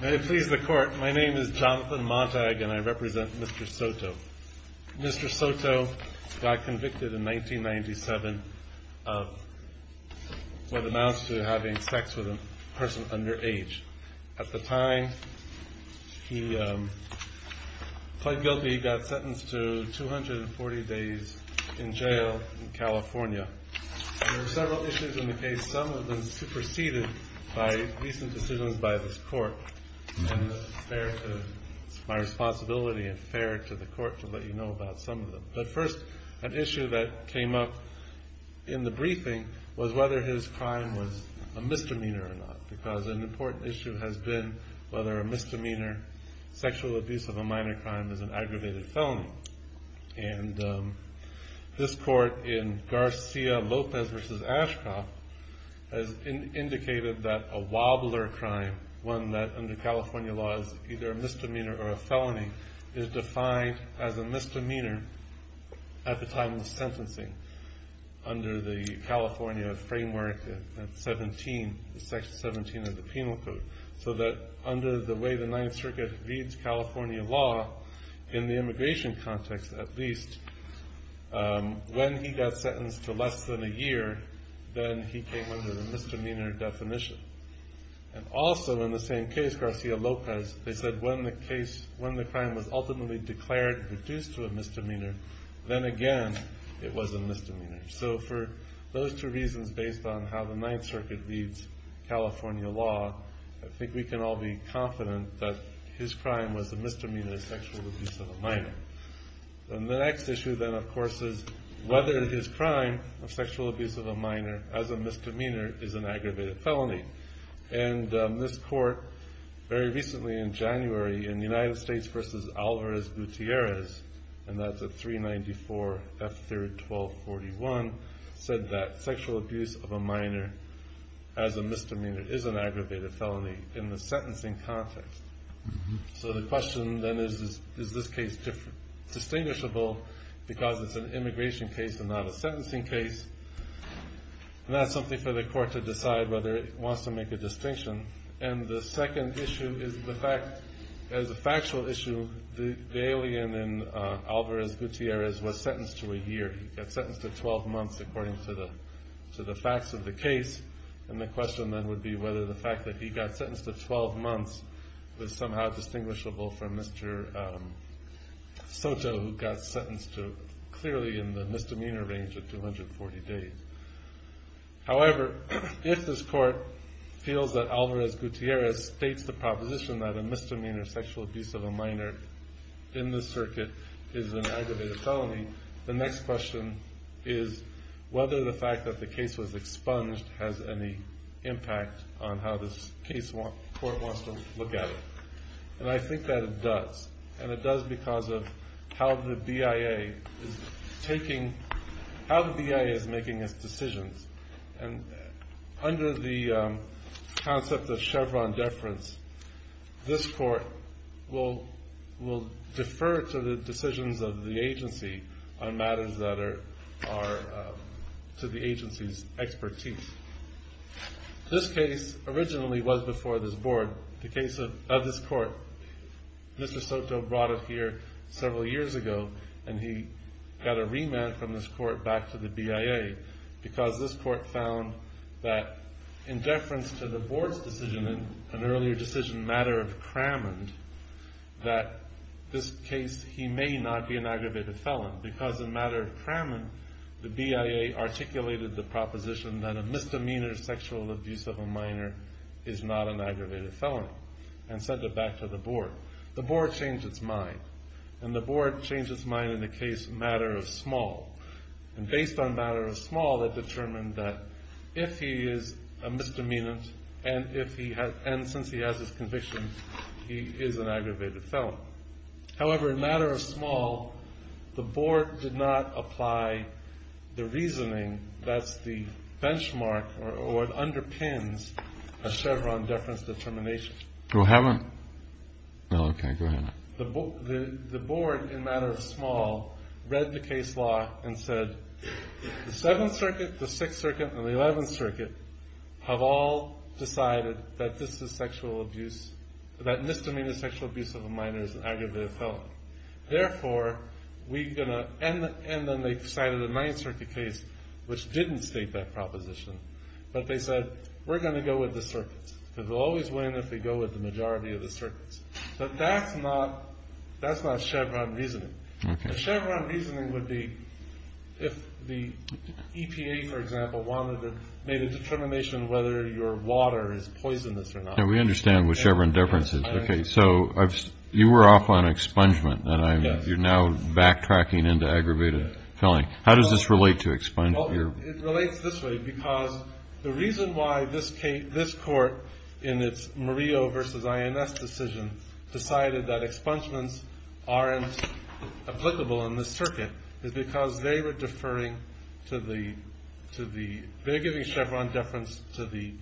May it please the Court, my name is Jonathan Montag and I represent Mr. SOTO. Mr. SOTO got convicted in 1997 of what amounts to having sex with a person underage. At the time, he pled guilty, got sentenced to 240 days in jail in California. There were several issues in the case, some of them superseded by recent decisions by this Court. It's my responsibility and fair to the Court to let you know about some of them. But first, an issue that came up in the briefing was whether his crime was a misdemeanor or not. Because an important issue has been whether a misdemeanor, sexual abuse of a minor crime, is an aggravated felony. And this Court in Garcia-Lopez v. Ashcroft has indicated that a wobbler crime, one that under California law is either a misdemeanor or a felony, is defined as a misdemeanor at the time of the sentencing under the California Framework, Section 17 of the Penal Code. So that under the way the Ninth Circuit reads California law, in the immigration context at least, when he got sentenced to less than a year, then he came under the misdemeanor definition. And also in the same case, Garcia-Lopez, they said when the crime was ultimately declared reduced to a misdemeanor, then again, it was a misdemeanor. So for those two reasons based on how the Ninth Circuit reads California law, I think we can all be confident that his crime was a misdemeanor, sexual abuse of a minor. And the next issue then of course is whether his crime of sexual abuse of a minor as a misdemeanor is an aggravated felony. And this court very recently in January in the United States versus Alvarez Gutierrez, and that's at 394 F3rd 1241, said that sexual abuse of a minor as a misdemeanor is an aggravated felony in the sentencing context. So the question then is, is this case distinguishable because it's an immigration case and not a sentencing case? And that's something for the court to decide whether it wants to make a distinction. And the second issue is the fact, as a factual issue, the alien in Alvarez Gutierrez was sentenced to a year. He got sentenced to 12 months according to the facts of the case. And the question then would be whether the fact that he got sentenced to 12 months was somehow distinguishable from Mr. Soto who got sentenced to clearly in the misdemeanor range of 240 days. However, if this court feels that Alvarez Gutierrez states the proposition that a misdemeanor sexual abuse of a minor in this circuit is an aggravated felony, the next question is whether the fact that the case was expunged has any impact on how this court wants to look at it. And I think that it does. And it does because of how the BIA is making its decisions. And under the concept of Chevron deference, this court will defer to the decisions of the agency on matters that are to the agency's expertise. This case originally was before this board, the case of this court. Mr. Soto brought it here several years ago and he got a remand from this court back to the BIA because this court found that in deference to the board's decision in an earlier decision, matter of Cramond, that this case, he may not be an aggravated felon because in matter of Cramond, the BIA articulated the proposition that a misdemeanor sexual abuse of a minor is not an aggravated felony and sent it back to the board. The board changed its mind. And the board changed its mind in the case matter of small. And based on matter of small, it determined that if he is a misdemeanant and since he has this conviction, he is an aggravated felon. However, in matter of small, the board did not apply the reasoning that's the benchmark or what underpins a Chevron deference determination. Go ahead. Okay, go ahead. The board in matter of small read the case law and said the 7th Circuit, the 6th Circuit, and the 11th Circuit have all decided that this is sexual abuse, that misdemeanor sexual abuse of a minor is an aggravated felon. Therefore, we're going to end it. And then they decided the 9th Circuit case, which didn't state that proposition. But they said we're going to go with the circuits because we'll always win if we go with the majority of the circuits. But that's not Chevron reasoning. Chevron reasoning would be if the EPA, for example, wanted to make a determination whether your water is poisonous or not. Yeah, we understand what Chevron deference is. Okay, so you were off on expungement. You're now backtracking into aggravated felony. How does this relate to expungement? It relates this way because the reason why this court in its Murillo v. INS decision decided that expungements aren't applicable in this circuit is because they were deferring to the they're giving Chevron deference to the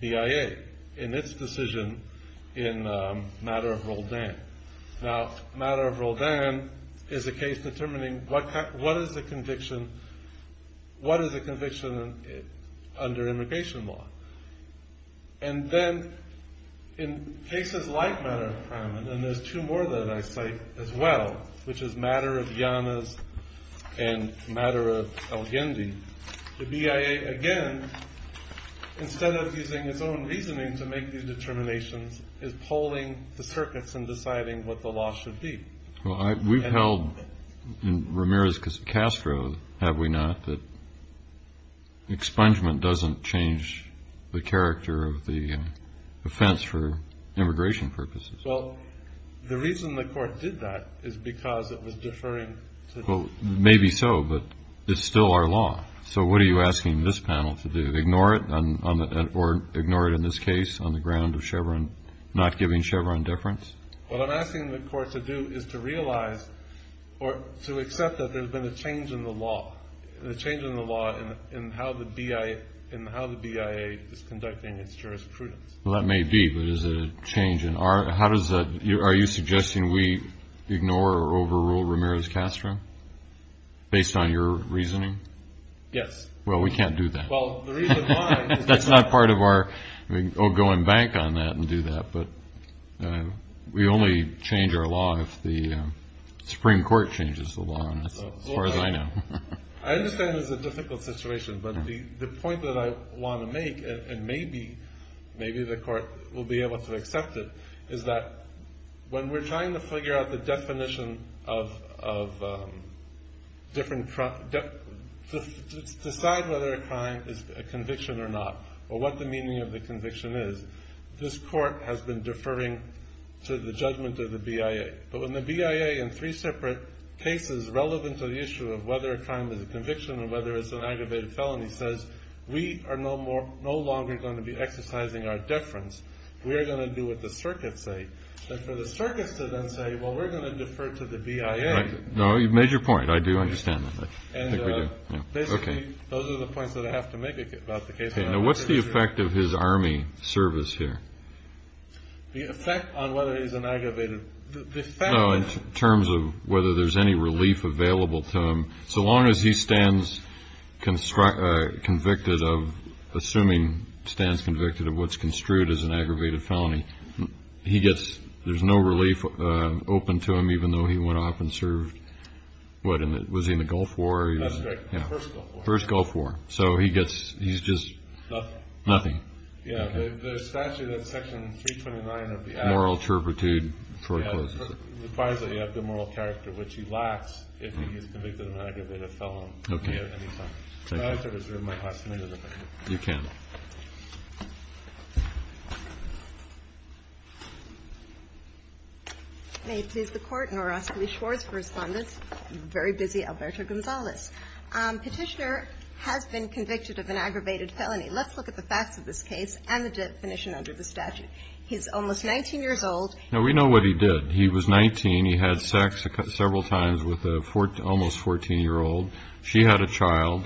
BIA in its decision in matter of Roldan. Now, matter of Roldan is a case determining what is a conviction under immigration law. And then in cases like matter of crime, and there's two more that I cite as well, which is matter of Llanos and matter of El Gendy, the BIA again, instead of using its own reasoning to make these determinations, is polling the circuits and deciding what the law should be. Well, we've held in Ramirez-Castro, have we not, that expungement doesn't change the character of the offense for immigration purposes. Well, the reason the court did that is because it was deferring to the Well, maybe so, but it's still our law. So what are you asking this panel to do? Ignore it or ignore it in this case on the ground of Chevron not giving Chevron deference? What I'm asking the court to do is to realize or to accept that there's been a change in the law, a change in the law in how the BIA is conducting its jurisprudence. Well, that may be, but is it a change in our Are you suggesting we ignore or overrule Ramirez-Castro based on your reasoning? Yes. Well, we can't do that. Well, the reason why is because That's not part of our going back on that and do that, but we only change our law if the Supreme Court changes the law, as far as I know. I understand it's a difficult situation, but the point that I want to make, and maybe the court will be able to accept it, is that when we're trying to figure out the definition of different, decide whether a crime is a conviction or not or what the meaning of the conviction is, this court has been deferring to the judgment of the BIA. But when the BIA in three separate cases relevant to the issue of whether a crime is a conviction or whether it's an aggravated felony says, we are no longer going to be exercising our deference. We are going to do what the circuits say. And for the circuits to then say, well, we're going to defer to the BIA. No, you've made your point. I do understand that. Basically, those are the points that I have to make about the case. Now, what's the effect of his army service here? The effect on whether he's an aggravated. No, in terms of whether there's any relief available to him. So long as he stands convicted of, assuming stands convicted of what's construed as an aggravated felony, he gets, there's no relief open to him even though he went off and served, what was he in the Gulf War? First Gulf War. First Gulf War. So he gets, he's just. Nothing. Nothing. Yeah. The statute of section 329 of the act. Moral turpitude forecloses it. which he lacks if he is convicted of an aggravated felony. Okay. Thank you. You can. May it please the Court. Norah Scully-Schwartz for Respondents. I'm very busy. Alberto Gonzalez. Petitioner has been convicted of an aggravated felony. Let's look at the facts of this case and the definition under the statute. He's almost 19 years old. Now, we know what he did. He was 19. He had sex several times with an almost 14-year-old. She had a child.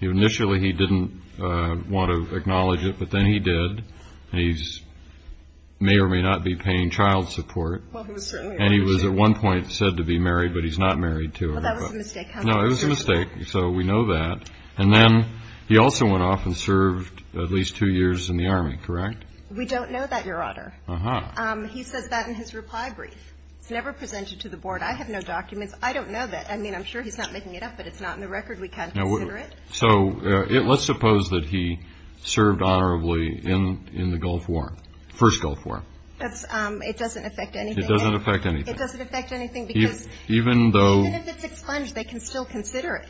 Initially, he didn't want to acknowledge it, but then he did, and he may or may not be paying child support. Well, he was certainly. And he was at one point said to be married, but he's not married to her. Well, that was a mistake. No, it was a mistake, so we know that. And then he also went off and served at least two years in the Army, correct? We don't know that, Your Honor. Uh-huh. He says that in his reply brief. It's never presented to the Board. I have no documents. I don't know that. I mean, I'm sure he's not making it up, but it's not in the record. We can't consider it. So let's suppose that he served honorably in the Gulf War, first Gulf War. It doesn't affect anything. It doesn't affect anything. It doesn't affect anything because even if it's expunged, they can still consider it.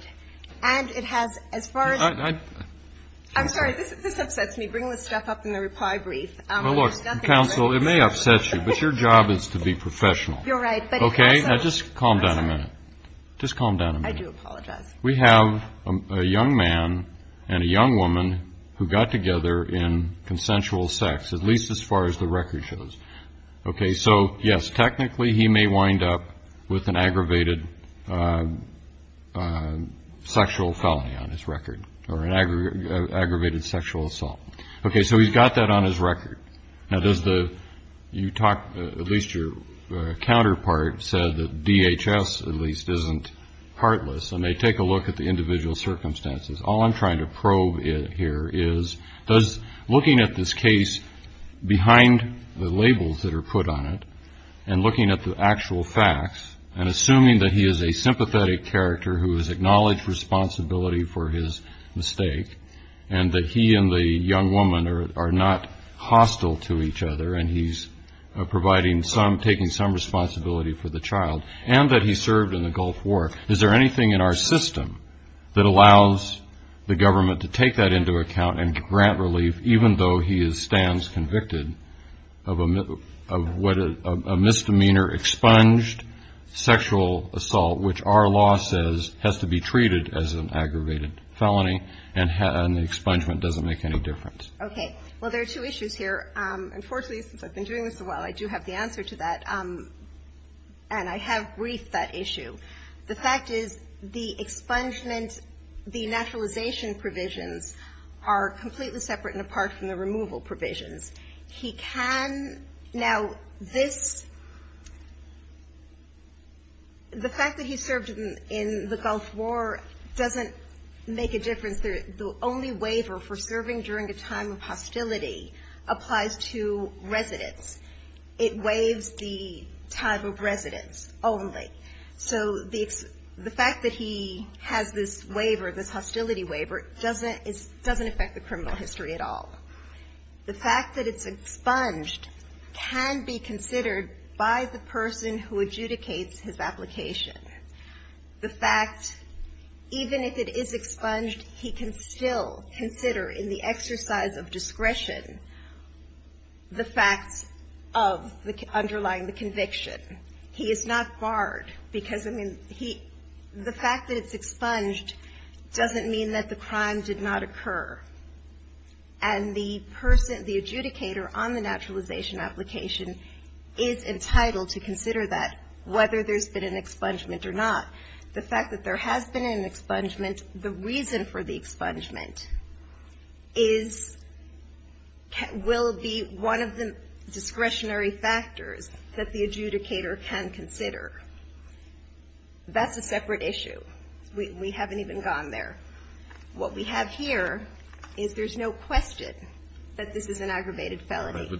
And it has, as far as – I'm sorry. This upsets me. Bring this stuff up in the reply brief. Well, look, counsel, it may upset you, but your job is to be professional. You're right. Okay? Now, just calm down a minute. Just calm down a minute. I do apologize. We have a young man and a young woman who got together in consensual sex, at least as far as the record shows. Okay? So, yes, technically he may wind up with an aggravated sexual felony on his record or an aggravated sexual assault. Okay, so he's got that on his record. Now, does the – you talked – at least your counterpart said that DHS, at least, isn't heartless, and they take a look at the individual circumstances. All I'm trying to probe here is does looking at this case behind the labels that are put on it and looking at the actual facts and assuming that he is a sympathetic character who has acknowledged responsibility for his mistake and that he and the young woman are not hostile to each other and he's providing some – taking some responsibility for the child and that he served in the Gulf War, is there anything in our system that allows the government to take that into account and grant relief even though he stands convicted of a misdemeanor expunged sexual assault, which our law says has to be treated as an aggravated felony and the expungement doesn't make any difference? Okay. Well, there are two issues here. Unfortunately, since I've been doing this a while, I do have the answer to that, and I have briefed that issue. The fact is the expungement, the naturalization provisions, are completely separate and apart from the removal provisions. He can – now, this – the fact that he served in the Gulf War doesn't make a difference. The only waiver for serving during a time of hostility applies to residence. It waives the time of residence only. So the fact that he has this waiver, this hostility waiver, doesn't affect the criminal history at all. The fact that it's expunged can be considered by the person who adjudicates his application. The fact, even if it is expunged, he can still consider in the exercise of discretion the facts of the underlying conviction. He is not barred because, I mean, he – the fact that it's expunged doesn't mean that the crime did not occur. And the person, the adjudicator on the naturalization application, is entitled to consider that, whether there's been an expungement or not. The fact that there has been an expungement, the reason for the expungement is – will be one of the discretionary factors that the adjudicator can consider. That's a separate issue. We haven't even gone there. What we have here is there's no question that this is an aggravated felony.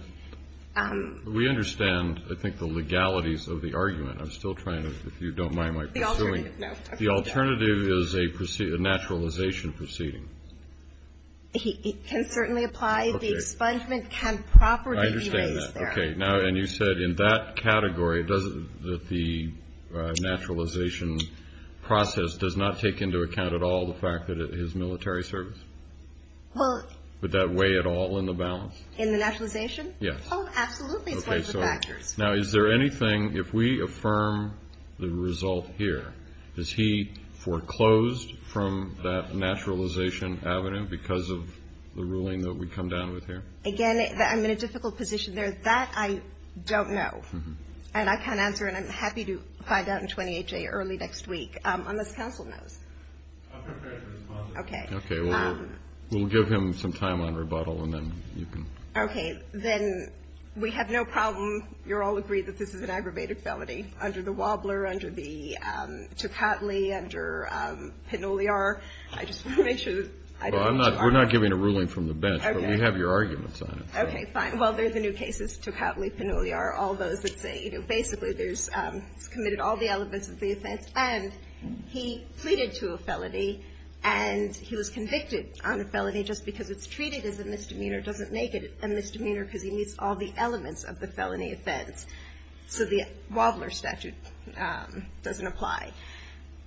We understand, I think, the legalities of the argument. I'm still trying to, if you don't mind my pursuing. The alternative, no. The alternative is a naturalization proceeding. It can certainly apply. The expungement can properly be raised there. I understand that. Okay. Now, and you said in that category, that the naturalization process does not take into account at all the fact that it is military service? Well – Would that weigh at all in the balance? In the naturalization? Yes. Oh, absolutely. It's one of the factors. Now, is there anything – if we affirm the result here, is he foreclosed from that naturalization avenue because of the ruling that we come down with here? Again, I'm in a difficult position there. That I don't know. And I can't answer, and I'm happy to find out in 20HA early next week, unless counsel knows. I'm prepared to respond to that. Okay. Okay. We'll give him some time on rebuttal, and then you can – Okay. Then we have no problem. You're all agreed that this is an aggravated felony under the Wobbler, under the Tocatli, under Pannulliar. I just want to make sure that – Well, I'm not – we're not giving a ruling from the bench, but we have your arguments on it. Okay, fine. Well, there's the new cases, Tocatli, Pannulliar, all those that say, you know, basically there's – committed all the elements of the offense. And he pleaded to a felony, and he was convicted on a felony just because it's treated as a misdemeanor doesn't make it a misdemeanor because he meets all the elements of the felony offense. So the Wobbler statute doesn't apply.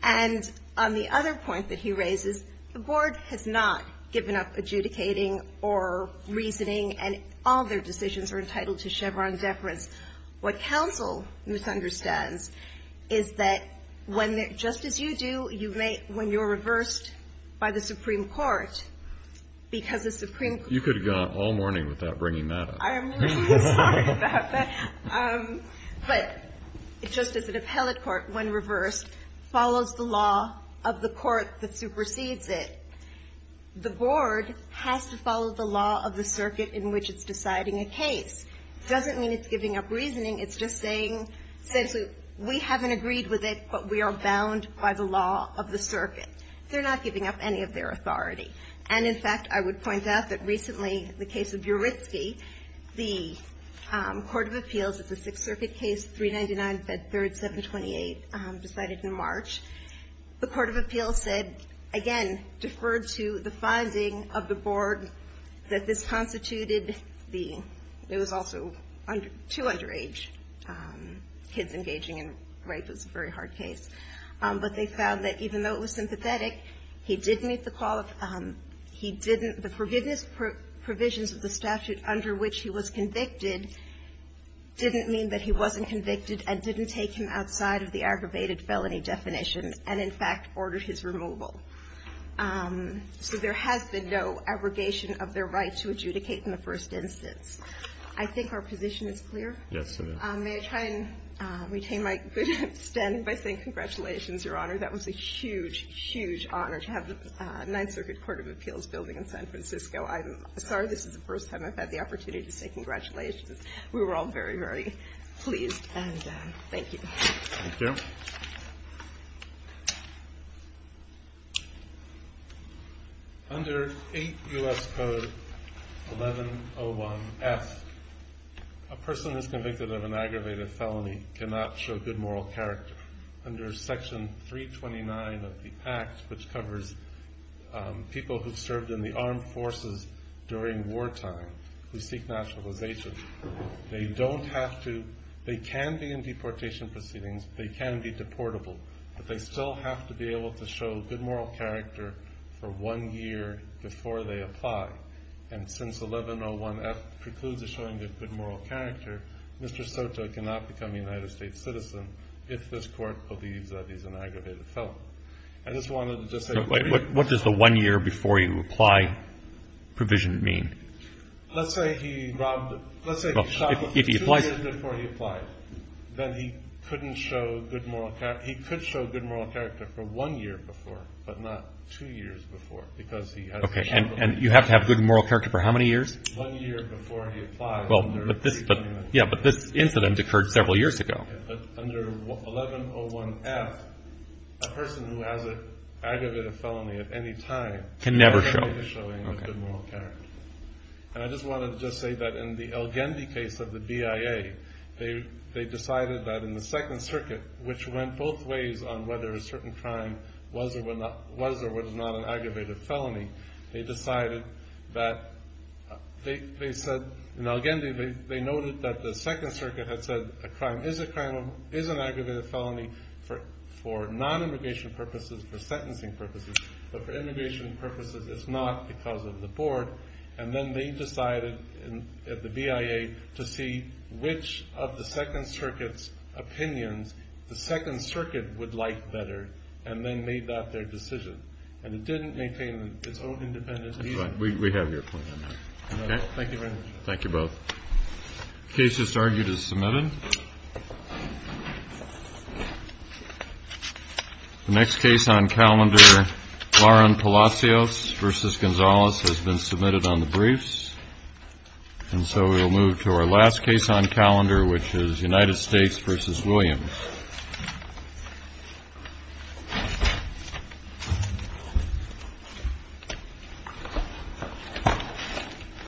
And on the other point that he raises, the Board has not given up adjudicating or reasoning, and all their decisions are entitled to Chevron deference. What counsel misunderstands is that when – just as you do when you're reversed by the Supreme Court, because the Supreme Court – You could have gone all morning without bringing that up. I'm really sorry about that. But just as an appellate court, when reversed, follows the law of the court that supersedes it, the Board has to follow the law of the circuit in which it's deciding a case. It doesn't mean it's giving up reasoning. It's just saying – Absolutely. We haven't agreed with it, but we are bound by the law of the circuit. They're not giving up any of their authority. And, in fact, I would point out that recently the case of Urytsky, the court of appeals at the Sixth Circuit case, 399, Fed 3rd, 728, decided in March. The court of appeals said – again, deferred to the finding of the Board that this constituted the – it was also two underage kids engaging in rape. It was a very hard case. But they found that even though it was sympathetic, he did meet the call of – he didn't – the forgiveness provisions of the statute under which he was convicted didn't mean that he wasn't convicted and didn't take him outside of the aggravated felony definition and, in fact, ordered his removal. So there has been no abrogation of their right to adjudicate in the first instance. I think our position is clear? Yes, it is. May I try and retain my good standing by saying congratulations, Your Honor? That was a huge, huge honor to have the Ninth Circuit Court of Appeals building in San Francisco. I'm sorry this is the first time I've had the opportunity to say congratulations. We were all very, very pleased. And thank you. Thank you. Under 8 U.S. Code 1101F, a person who is convicted of an aggravated felony cannot show good moral character. Under Section 329 of the pact, which covers people who served in the armed forces during wartime who seek naturalization, they don't have to – they can be in deportation proceedings, they can be deportable, but they still have to be able to show good moral character for one year before they apply. And since 1101F precludes the showing of good moral character, Mr. Soto cannot become a United States citizen if this Court believes that he's an aggravated felon. I just wanted to say – What does the one year before you apply provision mean? Let's say he robbed – let's say he shot him two years before he applied. Then he couldn't show good moral – he could show good moral character for one year before, but not two years before, because he has – Okay. And you have to have good moral character for how many years? One year before he applied under – Well, but this – yeah, but this incident occurred several years ago. But under 1101F, a person who has an aggravated felony at any time – Can never show. Can never show any good moral character. And I just wanted to say that in the El-Gendi case of the BIA, they decided that in the Second Circuit, which went both ways on whether a certain crime was or was not an aggravated felony, they decided that they said – Now, again, they noted that the Second Circuit had said a crime is a crime, is an aggravated felony for non-immigration purposes, for sentencing purposes. But for immigration purposes, it's not because of the board. And then they decided at the BIA to see which of the Second Circuit's opinions the Second Circuit would like better and then made that their decision. And it didn't maintain its own independence. That's right. We have your point on that. Okay? Thank you very much. Thank you both. The case that's argued is submitted. The next case on calendar, Lauren Palacios v. Gonzalez, has been submitted on the briefs. And so we will move to our last case on calendar, which is United States v. Williams.